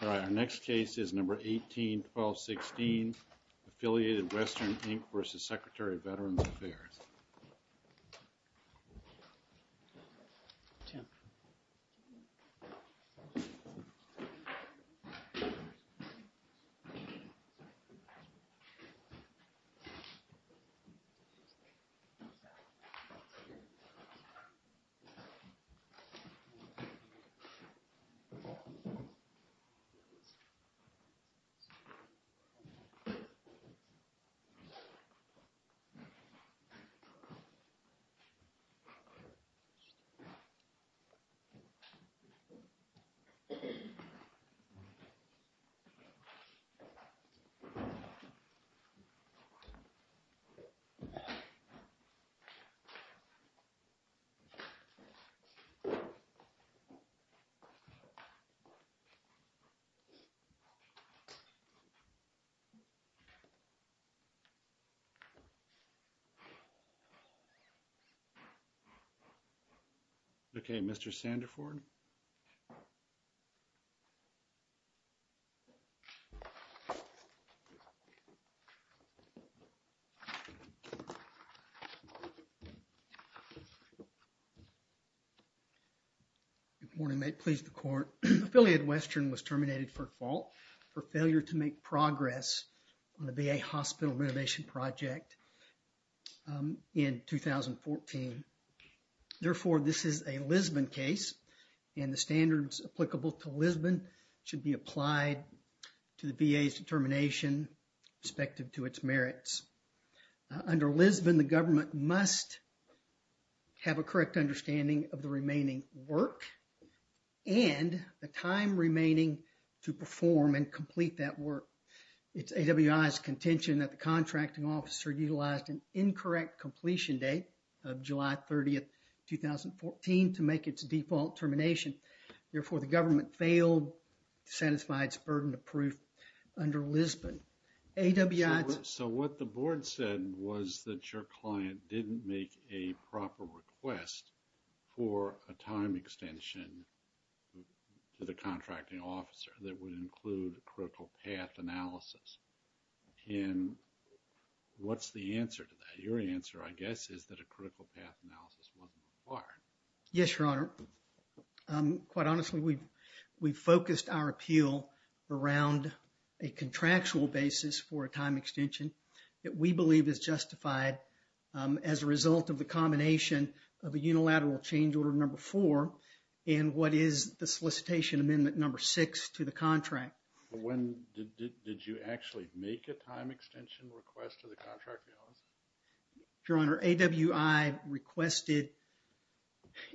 All right, our next case is number 18-1216, Affiliated Western, Inc. v. Secretary of Veterans Affairs All right, our next case is number 18-1216, Affiliated Western, Inc. v. Secretary of Veterans Okay, Mr. Sanderford. Good morning. May it please the Court, Affiliated Western was terminated for fault for failure to make progress on a VA hospital renovation project in 2014. Therefore, this is a Lisbon case, and the standards applicable to Lisbon should be applied to the VA's determination respective to its merits. Under Lisbon, the government must have a correct understanding of the remaining work and the time remaining to perform and complete that work. It's AWI's contention that the contracting officer utilized an incorrect completion date of July 30th, 2014, to make its default termination. Therefore, the government failed to satisfy its burden of proof under Lisbon. AWI... So what the board said was that your client didn't make a proper request for a time extension to the contracting officer that would include a critical path analysis. And what's the answer to that? Your answer, I guess, is that a critical path analysis wasn't required. Yes, Your Honor. Quite honestly, we've focused our appeal around a contractual basis for a time extension that we believe is justified as a result of the combination of a unilateral change order number four and what is the solicitation amendment number six to the contract. When did you actually make a time extension request to the contract officer? Your Honor, AWI requested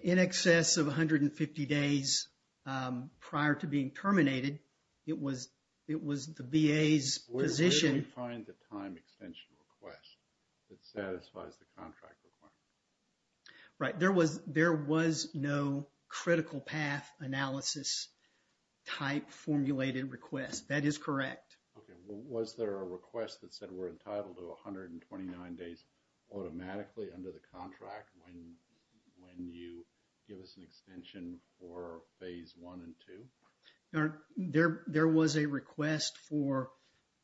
in excess of 150 days prior to being terminated. It was the VA's position... Where do we find the time extension request that satisfies the contract requirement? Right. There was no critical path analysis type formulated request. That is correct. Okay. Was there a request that said we're entitled to 129 days automatically under the contract when you give us an extension for phase one and two? Your Honor, there was a request for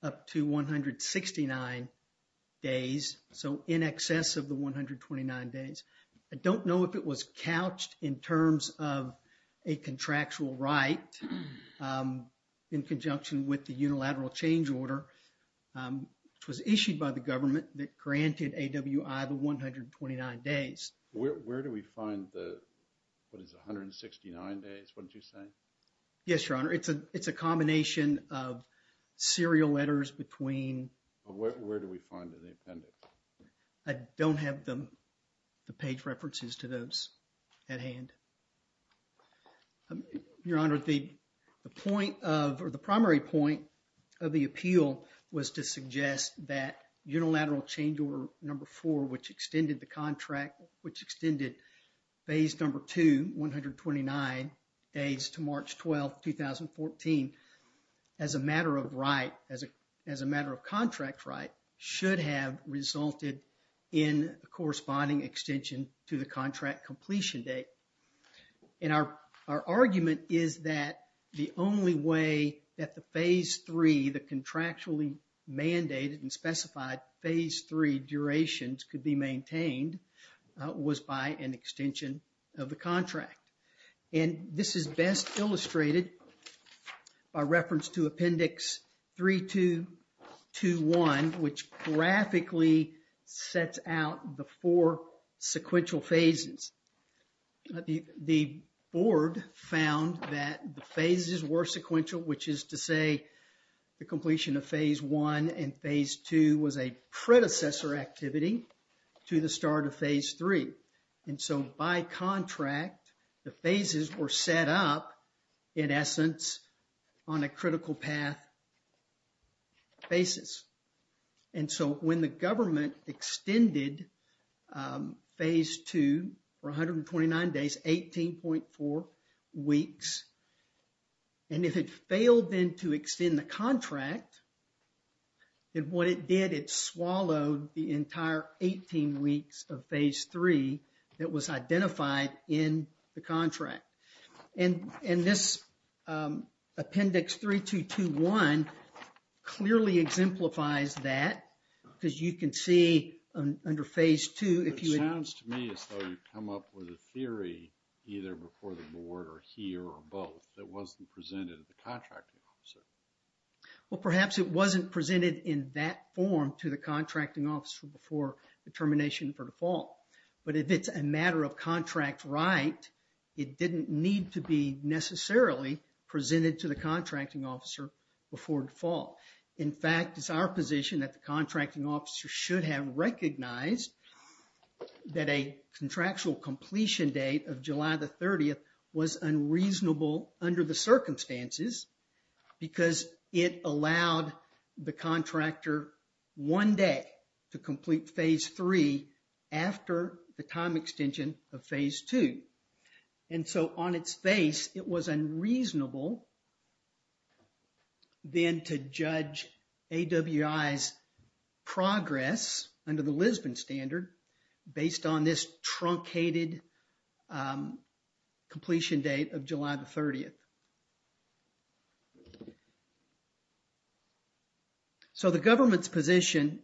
up to 169 days. So in excess of the 129 days. I don't know if it was couched in terms of a contractual right in conjunction with the unilateral change order which was issued by the government that granted AWI the 129 days. Where do we find the, what is it, 169 days? What did you say? Yes, Your Honor. It's a combination of serial letters between... Where do we find it in the appendix? I don't have the page references to those at hand. Your Honor, the point of, or the primary point of the appeal was to suggest that unilateral change order number four which extended the contract, which extended phase number two, 129 days to March 12th, 2014. As a matter of right, as a matter of contract right, should have resulted in a corresponding extension to the contract completion date. And our argument is that the only way that the phase three, the contractually mandated and specified phase three durations could be maintained was by an extension of the contract. And this is best illustrated by reference to appendix 3221 which graphically sets out the four sequential phases. The board found that the phases were sequential which is to say the completion of phase one and phase two was a predecessor activity to the start of phase three. And so by contract, the phases were set up in essence on a critical path basis. And so when the government extended phase two for 129 days, 18.4 weeks, and if it failed then to extend the contract, then what it did, it swallowed the entire 18 weeks of phase three that was identified in the contract. And this appendix 3221 clearly exemplifies that because you can see under phase two if you... It sounds to me as though you've come up with a theory either before the board or here or both that wasn't presented to the contracting officer. Well, perhaps it wasn't presented in that form to the contracting officer before the termination for default. But if it's a matter of contract right, it didn't need to be necessarily presented to the contracting officer before default. In fact, it's our position that the contracting officer should have recognized that a contractual completion date of July the 30th was unreasonable under the circumstances because it allowed the contractor one day to complete phase three after the time extension of phase two. And so on its face, it was unreasonable then to judge AWI's progress under the Lisbon standard based on this truncated completion date of July the 30th. So the government's position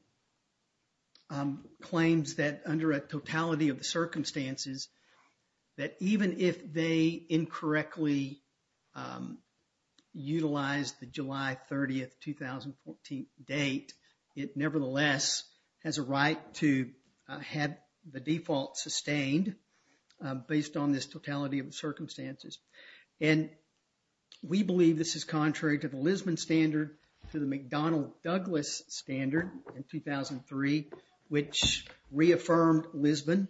claims that under a totality of the circumstances that even if they incorrectly utilize the July 30th, 2014 date, it nevertheless has a right to have the default sustained based on this totality of circumstances. And we believe this is contrary to the Lisbon standard to the McDonnell-Douglas standard in 2003 which reaffirmed Lisbon.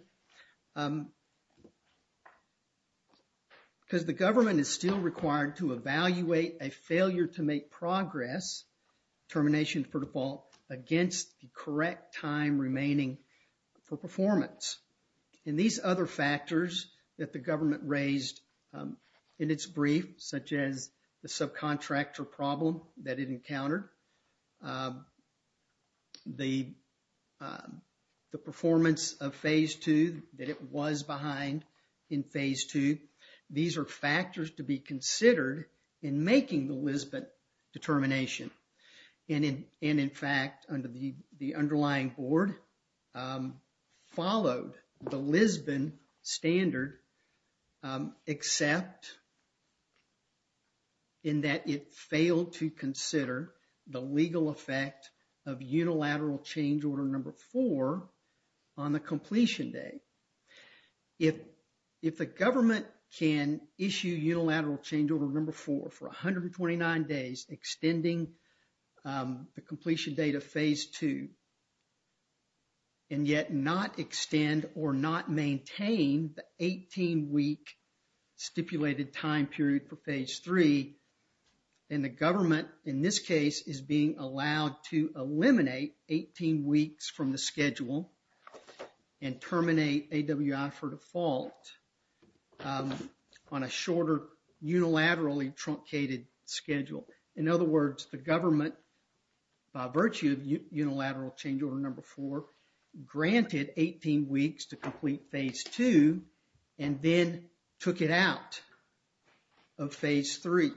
Because the government is still required to evaluate a failure to make progress, termination for default, against the correct time remaining for performance. And these other factors that the government raised in its brief such as the subcontractor problem that it encountered, the performance of phase two that it was behind in phase two, these are factors to be considered in making the Lisbon determination. And in fact, under the underlying board, followed the Lisbon standard except in that it failed to consider the legal effect of unilateral change order number four on the completion date. If the government can issue unilateral change order number four for 129 days extending the completion date of phase two and yet not extend or not maintain the 18-week stipulated time period for phase three, then the government in this case is being allowed to eliminate 18 weeks from the schedule and terminate AWI for default on a shorter unilaterally truncated schedule. In other words, the government by virtue of unilateral change order number four granted 18 weeks to complete phase two and then took it out of phase three.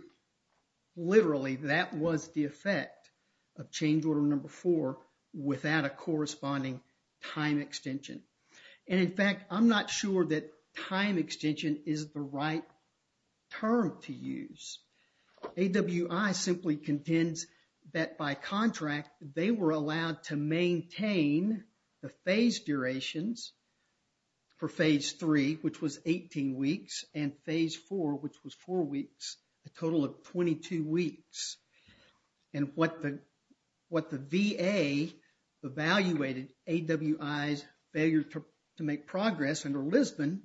Literally, that was the effect of change order number four without a corresponding time extension. And in fact, I'm not sure that time extension is the right term to use. AWI simply contends that by contract, they were allowed to maintain the phase durations for phase three which was 18 weeks and phase four which was four weeks, a total of 22 weeks. And what the VA evaluated AWI's failure to make progress under Lisbon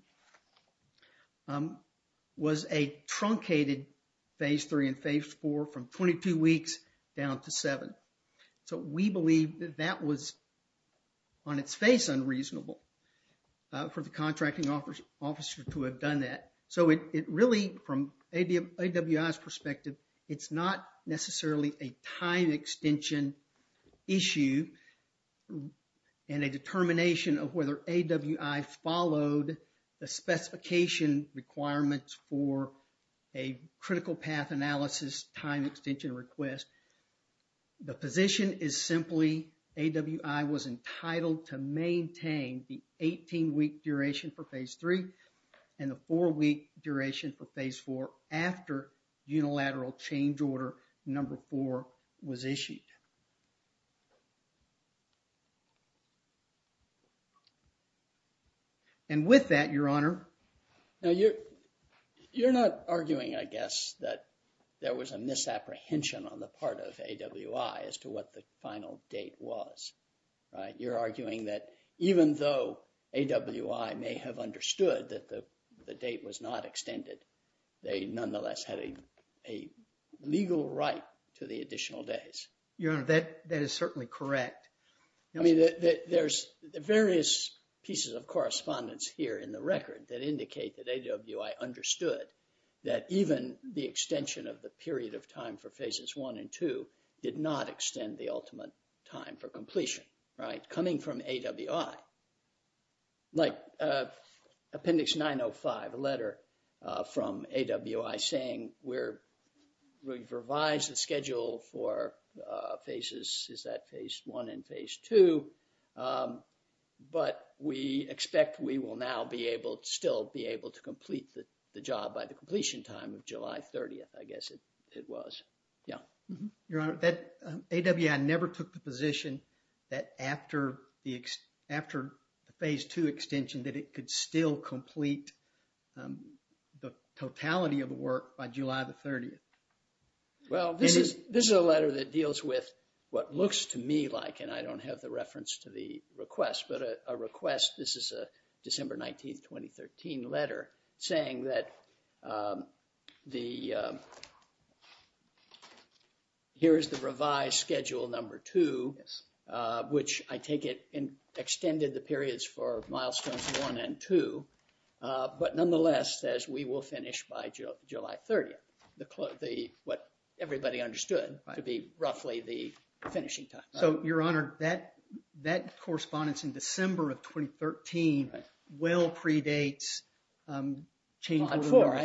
was a truncated phase three and phase four from 22 weeks down to seven. So, we believe that that was on its face unreasonable for the contracting officer to have done that. So, it really from AWI's perspective, it's not necessarily a time extension issue and a determination of whether AWI followed the specification requirements for a critical path analysis time extension request. The position is simply AWI was entitled to maintain the 18 week duration for phase three and the four week duration for phase four after unilateral change order number four was issued. And with that, your honor. Now, you're not arguing, I guess, that there was a misapprehension on the part of AWI as to what the final date was, right? You're not arguing that AWI may have understood that the date was not extended. They nonetheless had a legal right to the additional days. Your honor, that is certainly correct. I mean, there's various pieces of correspondence here in the record that indicate that AWI understood that even the extension of the period of time for phases one and two did not extend the time. There's like appendix 905, a letter from AWI saying we've revised the schedule for phases, is that phase one and phase two, but we expect we will now be able to still be able to complete the job by the completion time of July 30th, I guess it was. Yeah. Your honor, that AWI never took the position that after the phase two extension, that it could still complete the totality of the work by July 30th. Well, this is a letter that deals with what looks to me like, and I don't have the reference to the request, but a request, this is a December 19th, 2013 letter saying that the, here's the revised schedule number two, which I take it and extended the periods for milestones one and two, but nonetheless says we will finish by July 30th. The, what everybody understood to be roughly the finishing time. So, your honor, that correspondence in chamber number four. I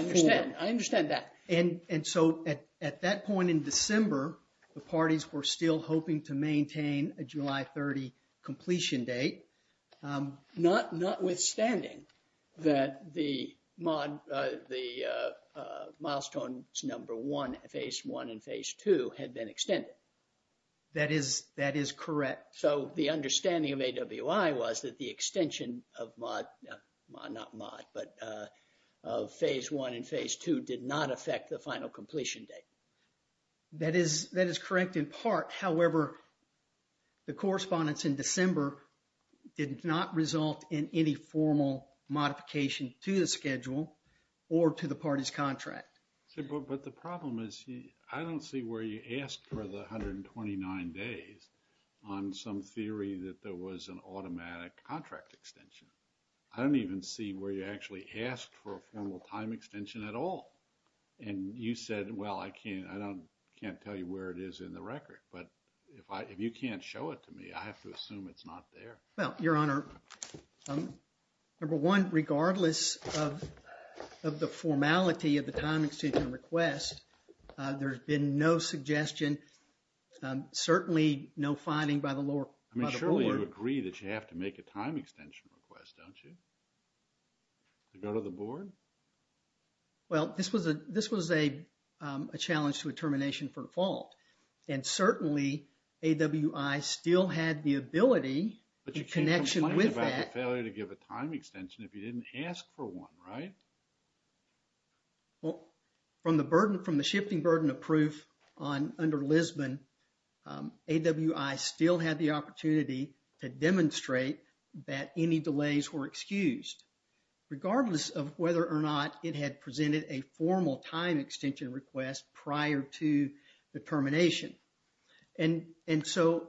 understand that. And so, at that point in December, the parties were still hoping to maintain a July 30th completion date. Notwithstanding that the milestone number one, phase one and phase two had been extended. That is correct. So, the understanding of AWI was that the extension of mod, not mod, but of phase one and phase two did not affect the final completion date. That is correct in part. However, the correspondence in December did not result in any formal modification to the schedule or to the party's contract. But the problem is, I don't see where you asked for the 129 days on some theory that there was an automatic contract extension. I don't even see where you actually asked for a formal time extension at all. And you said, well, I can't, I don't, can't tell you where it is in the record. But if I, if you can't show it to me, I have to assume it's not there. Well, your honor, number one, regardless of, of the formality of the time extension request, there's been no suggestion, certainly no finding by the lower, by the board. I mean, surely you agree that you have to make a time extension request, don't you? To go to the board? Well, this was a, this was a, a challenge to a termination for default. And certainly, AWI still had the ability, the connection with that. But you can't complain about the failure to give a time extension request. From the burden, from the shifting burden of proof on, under Lisbon, AWI still had the opportunity to demonstrate that any delays were excused, regardless of whether or not it had presented a formal time extension request prior to the termination. And, and so,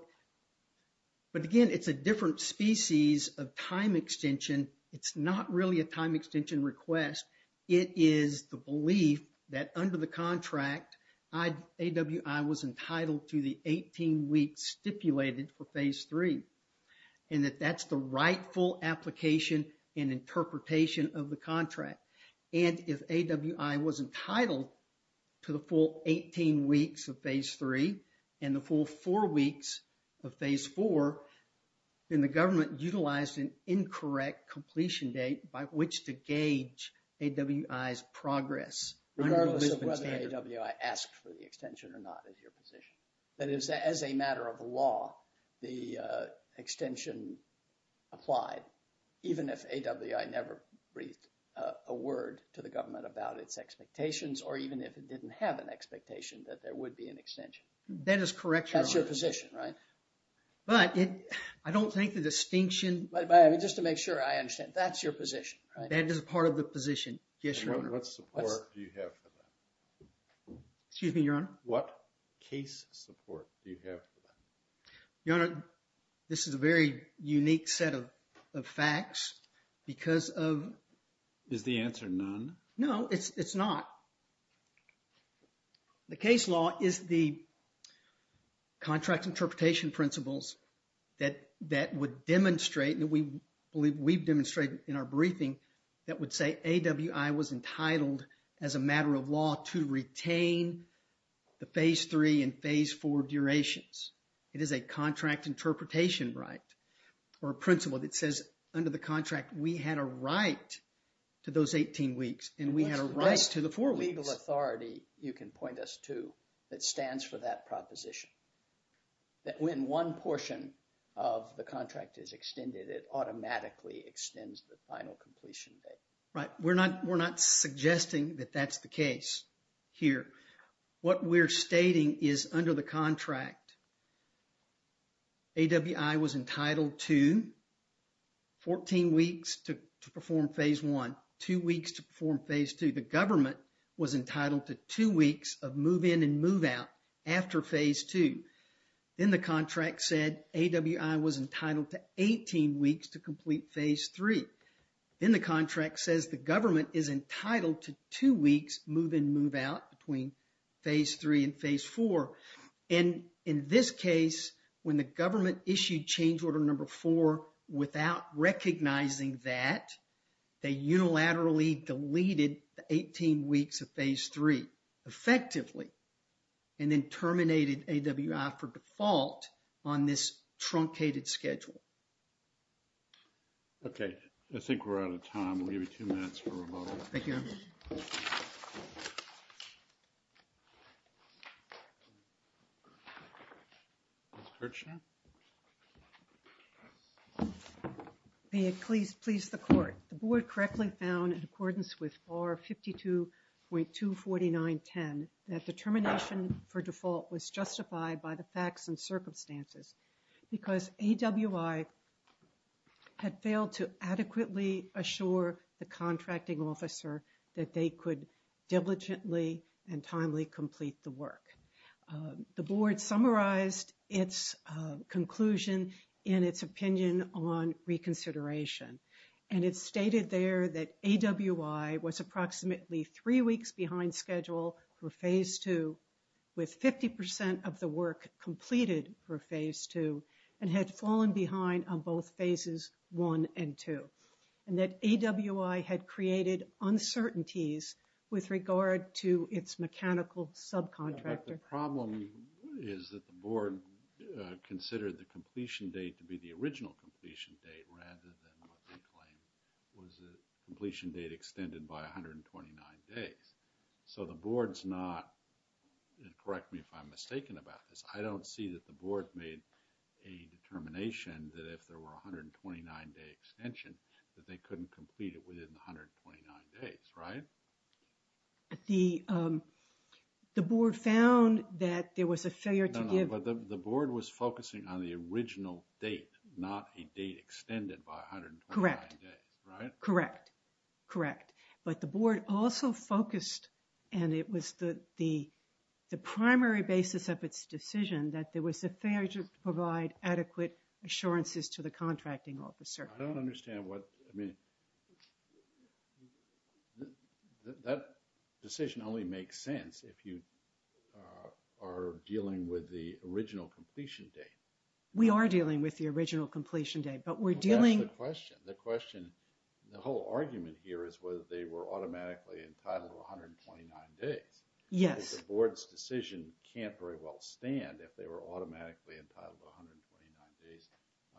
but again, it's a different species of time extension. It's not really a time extension request. It is the belief that under the contract, I, AWI was entitled to the 18 weeks stipulated for phase three. And that that's the rightful application and interpretation of the contract. And if AWI was entitled to the full 18 weeks of phase three, and the full four weeks of phase four, then the government utilized an incorrect completion date by which to gauge AWI's progress. Regardless of whether AWI asked for the extension or not is your position. That is, as a matter of law, the extension applied, even if AWI never breathed a word to the government about its expectations, or even if it didn't have an expectation that there would be an extension. That's your position, right? But it, I don't think the distinction... Just to make sure I understand, that's your position, right? That is part of the position. Yes, Your Honor. What support do you have for that? Excuse me, Your Honor? What case support do you have for that? Your Honor, this is a very unique set of facts because of... Is the answer none? No, it's not. The case law is the contract interpretation principles that would demonstrate, and we believe we've demonstrated in our briefing, that would say AWI was entitled, as a matter of law, to retain the phase three and phase four durations. It is a contract interpretation right, or a principle that says, under the contract, we had a right to those 18 weeks, and we had a right to the four weeks. What's the legal authority, you can point us to, that stands for that proposition? That when one portion of the contract is extended, it automatically extends the final completion date? Right. We're not suggesting that that's the case here. What we're stating is, under the contract, AWI was entitled to 14 weeks to perform phase one, two weeks to perform phase two. The government was entitled to two weeks of move in and move out after phase two. Then the contract said, AWI was entitled to 18 weeks to complete phase three. Then the contract says, the government is entitled to two weeks move in, move out between phase three and phase four. And in this case, when the government issued change order number four, without recognizing that, they unilaterally deleted the 18 weeks of phase three, effectively, and then terminated AWI for default on this truncated schedule. Okay, I think we're out of time. We'll give you two minutes for a vote. Thank you. May it please the court. The board correctly found, in accordance with bar 52.24910, that termination for default was justified by the facts and circumstances. Because AWI had failed to adequately assure the contracting officer that they could diligently and timely complete the work. The board summarized its conclusion in its opinion on reconsideration. And it stated there that AWI was approximately three weeks behind schedule for phase two, with 50 percent of the work completed for phase two, and had fallen behind on both phases one and two. And that AWI had created uncertainties with regard to its mechanical subcontractor. The problem is that the board considered the completion date to be the original completion date, rather than what they claimed was a completion date extended by 129 days. So the board's not, correct me if I'm mistaken about this, I don't see that the board made a determination that if there were 129 day extension, that they couldn't complete it within 129 days, right? The board found that there was a failure to give... Correct. Correct. But the board also focused, and it was the primary basis of its decision, that there was a failure to provide adequate assurances to the contracting officer. I don't understand what, I mean, that decision only makes sense if you are dealing with the original completion date. We are dealing with the original completion date, but we're dealing... That's the question. The question, the whole argument here is whether they were automatically entitled 129 days. Yes. Because the board's decision can't very well stand if they were automatically entitled 129 days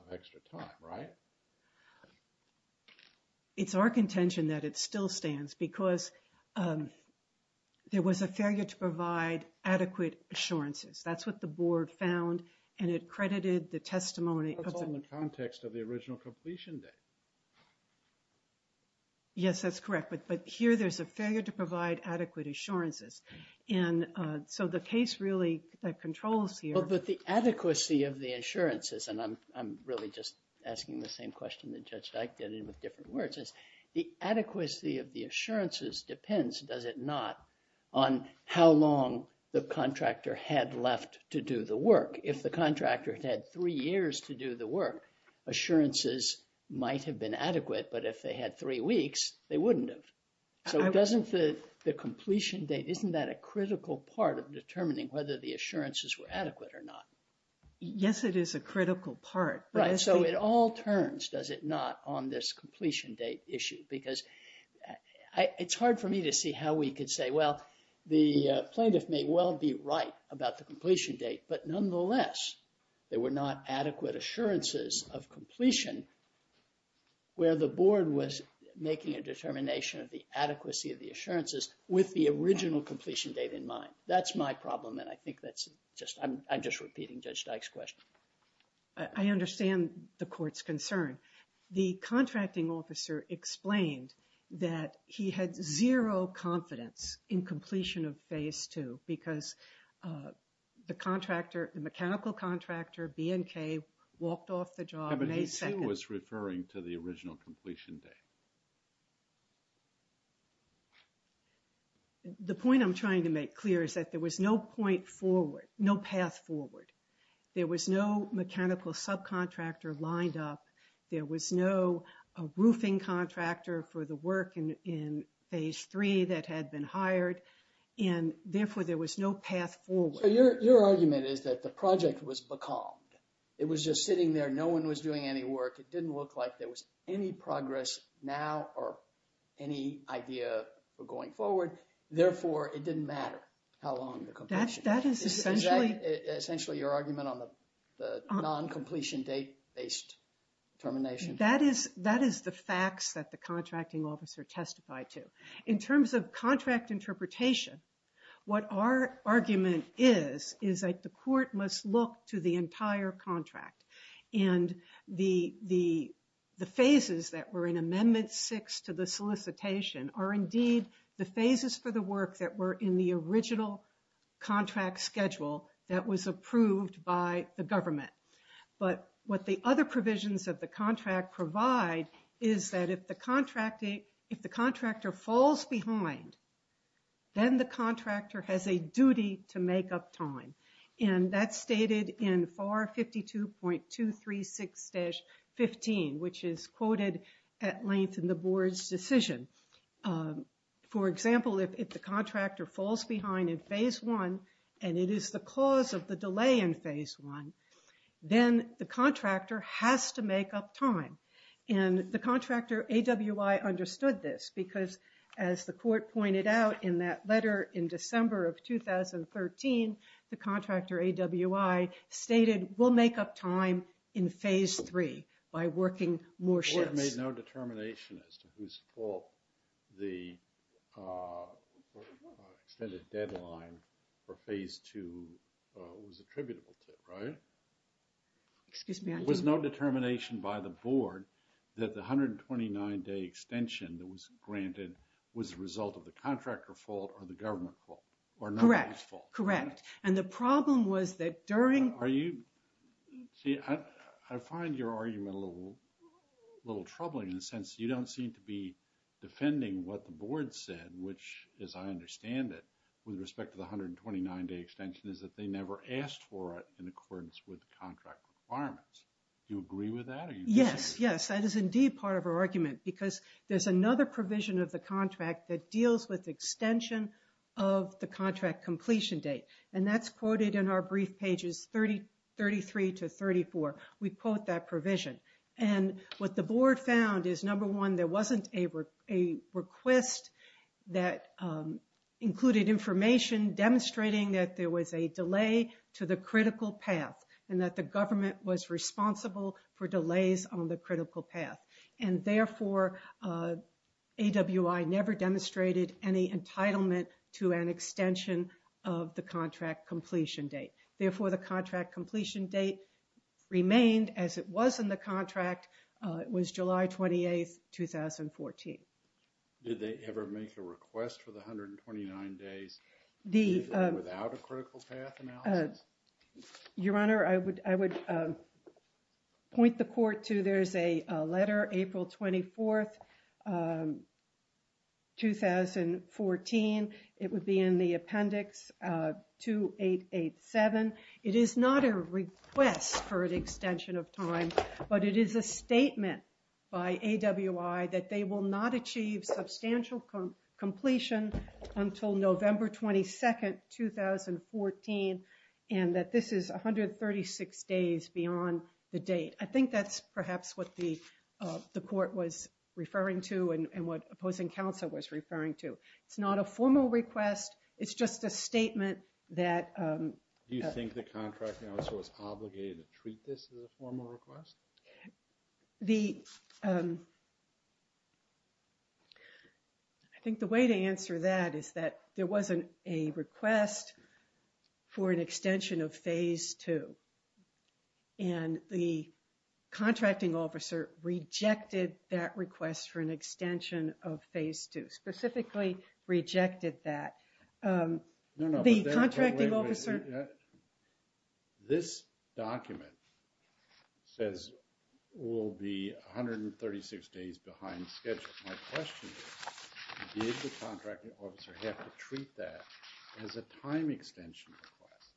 of extra time, right? It's our contention that it still stands because there was a failure to provide adequate assurances. That's what the board found, and it credited the testimony... That's all in the context of the original completion date. Yes, that's correct, but here there's a failure to provide adequate assurances, and so the case really controls here... Well, but the adequacy of the assurances, and I'm really just asking the same question that Judge Dyke did with different words, is the adequacy of the assurances depends, does it not, on how long the contractor had left to do the work? If the contractor had had three years to do the work, assurances might have been adequate, but if they had three weeks, they wouldn't have. So doesn't the completion date, isn't that a critical part of determining whether the assurances were adequate or not? Yes, it is a critical part. Right, so it all turns, does it not, on this completion date issue because I... It's hard for me to see how we could say, well, the plaintiff may well be right about the completion date, but nonetheless, there were not adequate assurances of completion where the board was making a determination of the adequacy of the assurances with the original completion date in mind. That's my problem, and I think that's just... I'm just repeating Judge Dyke's question. I understand the court's concern. The contracting officer explained that he had zero confidence in completion of Phase 2 because the contractor, the mechanical contractor, B&K, walked off the job May 2nd... But he, too, was referring to the original completion date. The point I'm trying to make clear is that there was no point forward, no path forward. There was no mechanical subcontractor lined up. There was no roofing contractor for the work in Phase 3 that had been hired, and therefore, there was no path forward. Your argument is that the project was becalmed. It was just sitting there. No one was doing any work. It didn't look like there was any progress now or any idea for going forward. Therefore, it didn't matter how long the completion... That is essentially... Essentially, your argument on the non-completion date-based termination. That is the facts that the contracting officer testified to. In terms of contract interpretation, what our argument is is that the court must look to the entire contract, and the phases that were in Amendment 6 to the solicitation are indeed the phases for the work that were in the original contract schedule that was approved by the government. But what the other provisions of the contract provide is that if the contractor falls behind, then the contractor has a duty to make up time. And that's stated in FAR 52.236-15, which is quoted at length in the and it is the cause of the delay in Phase 1, then the contractor has to make up time. And the contractor, AWI, understood this because, as the court pointed out in that letter in December of 2013, the contractor, AWI, stated, we'll make up time in Phase 3 by working more shifts. The court made no determination as to whose fault the extended deadline for Phase 2 was attributable to, right? There was no determination by the board that the 129-day extension that was granted was the result of the contractor fault or the government fault. Correct, correct. And the problem was that during... Are you... See, I find your argument a little troubling in the sense you don't seem to be defending what the board said, which, as I understand it, with respect to the 129-day extension is that they never asked for it in accordance with the contract requirements. Do you agree with that? Yes, yes, that is indeed part of our argument because there's another provision of the contract that deals with extension of the contract completion date. And that's quoted in our brief pages 33 to 34. We quote that provision. And what the board found is, number one, there wasn't a request that included information demonstrating that there was a delay to the critical path and that the government was responsible for delays on the critical path. And therefore, AWI never demonstrated any entitlement to an extension of the contract completion date. Therefore, the contract completion date remained as it was in the contract. It was July 28th, 2014. Did they ever make a request for the 129 days, even without a critical path analysis? Your Honor, I would point the court to there's a letter, April 24th, 2014. It would be in the appendix 2887. It is not a request for an extension of time, but it is a statement by AWI that they will not achieve substantial completion until November 22nd, 2014. And that this is 136 days beyond the date. I think that's perhaps what the court was referring to and what opposing counsel was referring to. It's not a formal request. It's just a statement that... Do you think the contracting officer was obligated to treat this as a formal request? I think the way to answer that is that there wasn't a request for an extension of phase two. And the contracting officer rejected that request for an extension of phase two, specifically rejected that. The contracting officer... No, no. This document says we'll be 136 days behind schedule. My question is, did the contracting officer have to treat that as a time extension request?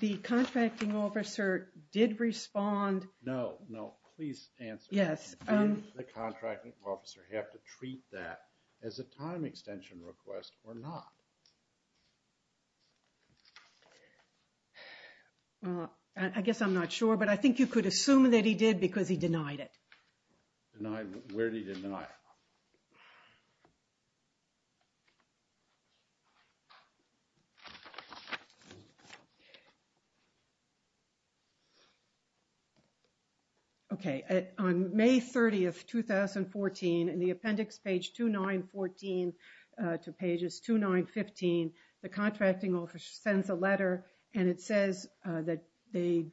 The contracting officer did respond... No, no. Please answer. Yes. Did the contracting officer have to treat that as a time extension request or not? Well, I guess I'm not sure, but I think you could assume that he did because he denied it. Denied? Where did he deny it? Okay. On May 30th, 2014, in the appendix page 2914 to pages 2915, the contracting officer sends a letter and it says that the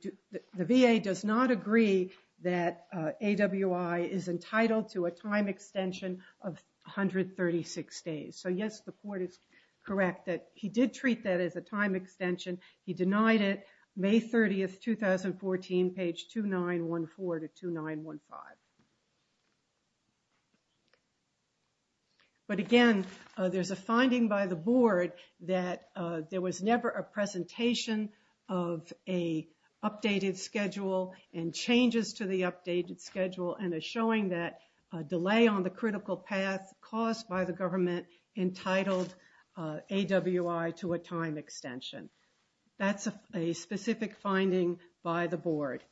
VA does not agree that AWI is entitled to a time extension of 136 days. So yes, the court is correct that he did treat that as a time extension. He denied it. May 30th, 2014, page 2914 to 2915. But again, there's a finding by the board that there was never a presentation of a updated schedule and changes to the updated schedule and a showing that a delay on the critical path caused by the government entitled AWI to a time extension. That's a specific finding by the board.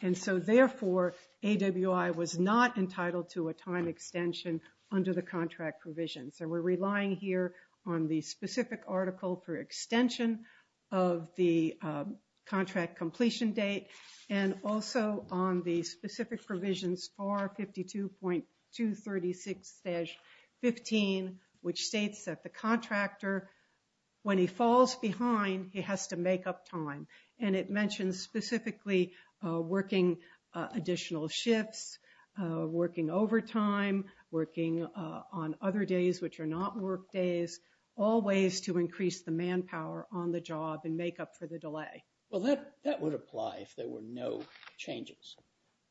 And so therefore, AWI was not entitled to a time extension under the contract provision. So we're relying here on the specific article for extension of the contract completion date and also on the specific provisions for 52.236-15, which states that the contractor, when he falls behind, he has to make up time. And it mentions specifically working additional shifts, working overtime, working on other days which are not work days, all ways to increase the manpower on the job and make up for the delay. Well, that would apply if there were no changes,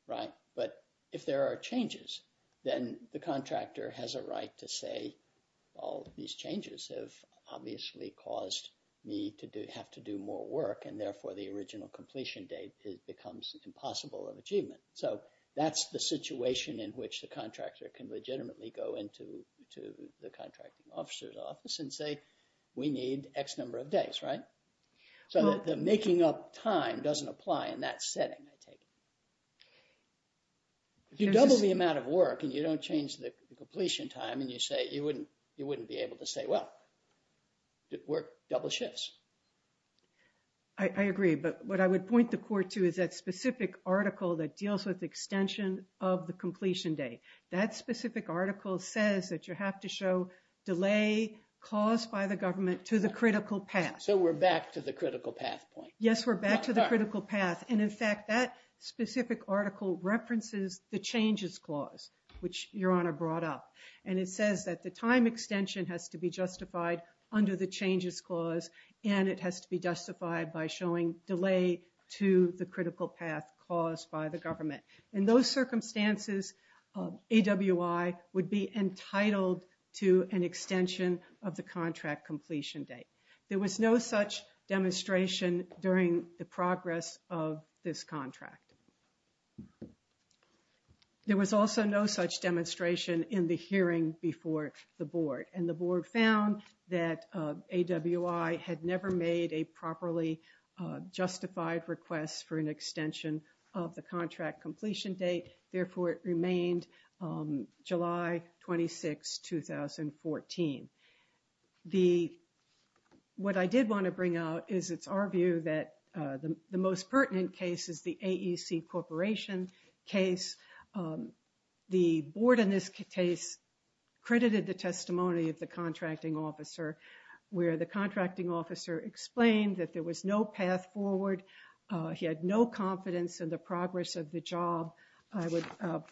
right? But if there are changes, then the contractor has a right to say, well, these changes have obviously caused me to have to do more work. And therefore, the original completion date becomes impossible of achievement. So that's the situation in which the contractor can legitimately go into the contracting officer's office and say, we need X number of days, right? So the making up time doesn't apply in that setting, I take it. If you double the amount of work and you don't change the completion time and you say, you wouldn't be able to say, well, work double shifts. I agree. But what I would point the court to is that specific article that deals with extension of the completion date. That specific article says that you have to show delay caused by the government to the critical path. So we're back to the critical path point. Yes, we're back to the critical path. And in fact, that specific article references the changes clause, which Your Honor brought up. And it says that the time extension has to be justified under the changes clause. And it has to be justified by showing delay to the critical path caused by the government. In those circumstances, AWI would be entitled to an extension of the contract during the progress of this contract. There was also no such demonstration in the hearing before the board. And the board found that AWI had never made a properly justified request for an extension of the contract completion date. Therefore, it remained July 26, 2014. What I did want to bring out is it's our view that the most pertinent case is the AEC Corporation case. The board in this case credited the testimony of the contracting officer, where the contracting officer explained that there was no path forward. He had no confidence in the progress of the job. I would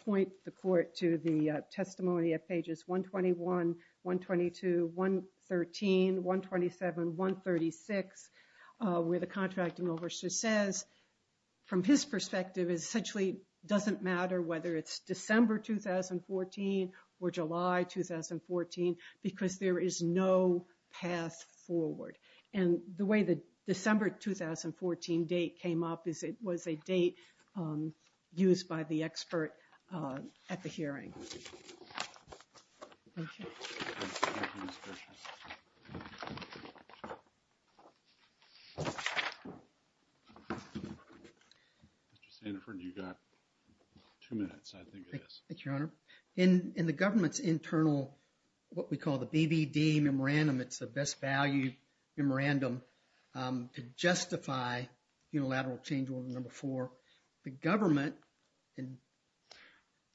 point the court to the testimony at pages 121, 122, 113, 127, 136, where the contracting officer says, from his perspective, it essentially doesn't matter whether it's December 2014 or July 2014, because there is no path forward. And the way the December 2014 date came up is it was a date used by the expert at the hearing. Thank you. Mr. Sandiford, you've got two minutes, I think it is. Thank you, Your Honor. In the government's internal, what we call the BBD memorandum, it's the best value memorandum to justify unilateral change order number four. The government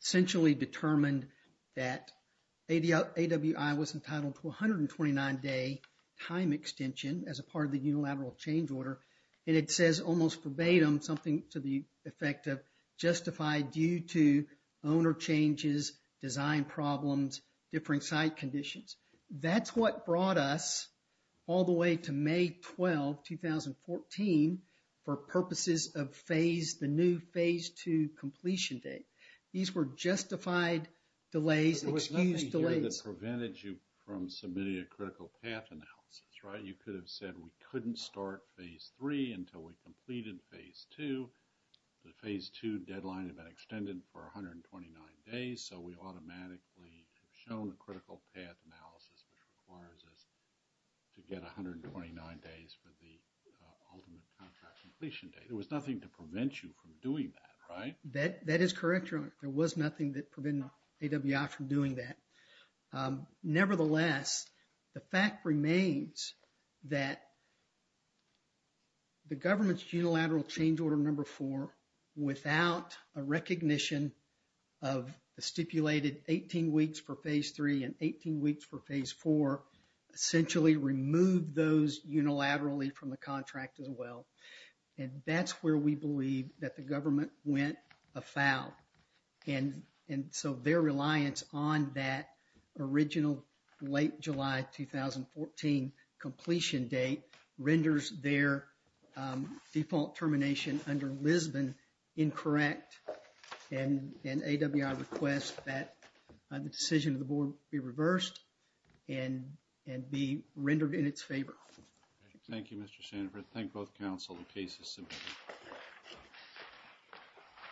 essentially determined that AWI was entitled to a 129-day time extension as a part of the unilateral change order. And it says almost verbatim something to the effect of due to owner changes, design problems, different site conditions. That's what brought us all the way to May 12, 2014, for purposes of phase, the new phase two completion date. These were justified delays, excused delays. There was nothing here that prevented you from submitting a critical path analysis, right? You could have said we couldn't start phase three until we completed phase two. The phase two deadline had been extended for 129 days, so we automatically have shown a critical path analysis which requires us to get 129 days for the ultimate contract completion date. There was nothing to prevent you from doing that, right? That is correct, Your Honor. There was nothing that prevented AWI from doing that. Nevertheless, the fact remains that the government's unilateral change order number four, without a recognition of the stipulated 18 weeks for phase three and 18 weeks for phase four, essentially removed those unilaterally from the contract as well. And that's where we believe that the government went afoul. And so, their reliance on that original late July 2014 completion date renders their default termination under Lisbon incorrect. And AWI requests that the decision of the board be reversed and be rendered in its favor. Thank you, Mr. Sanford. Thank both counsel. The case is submitted.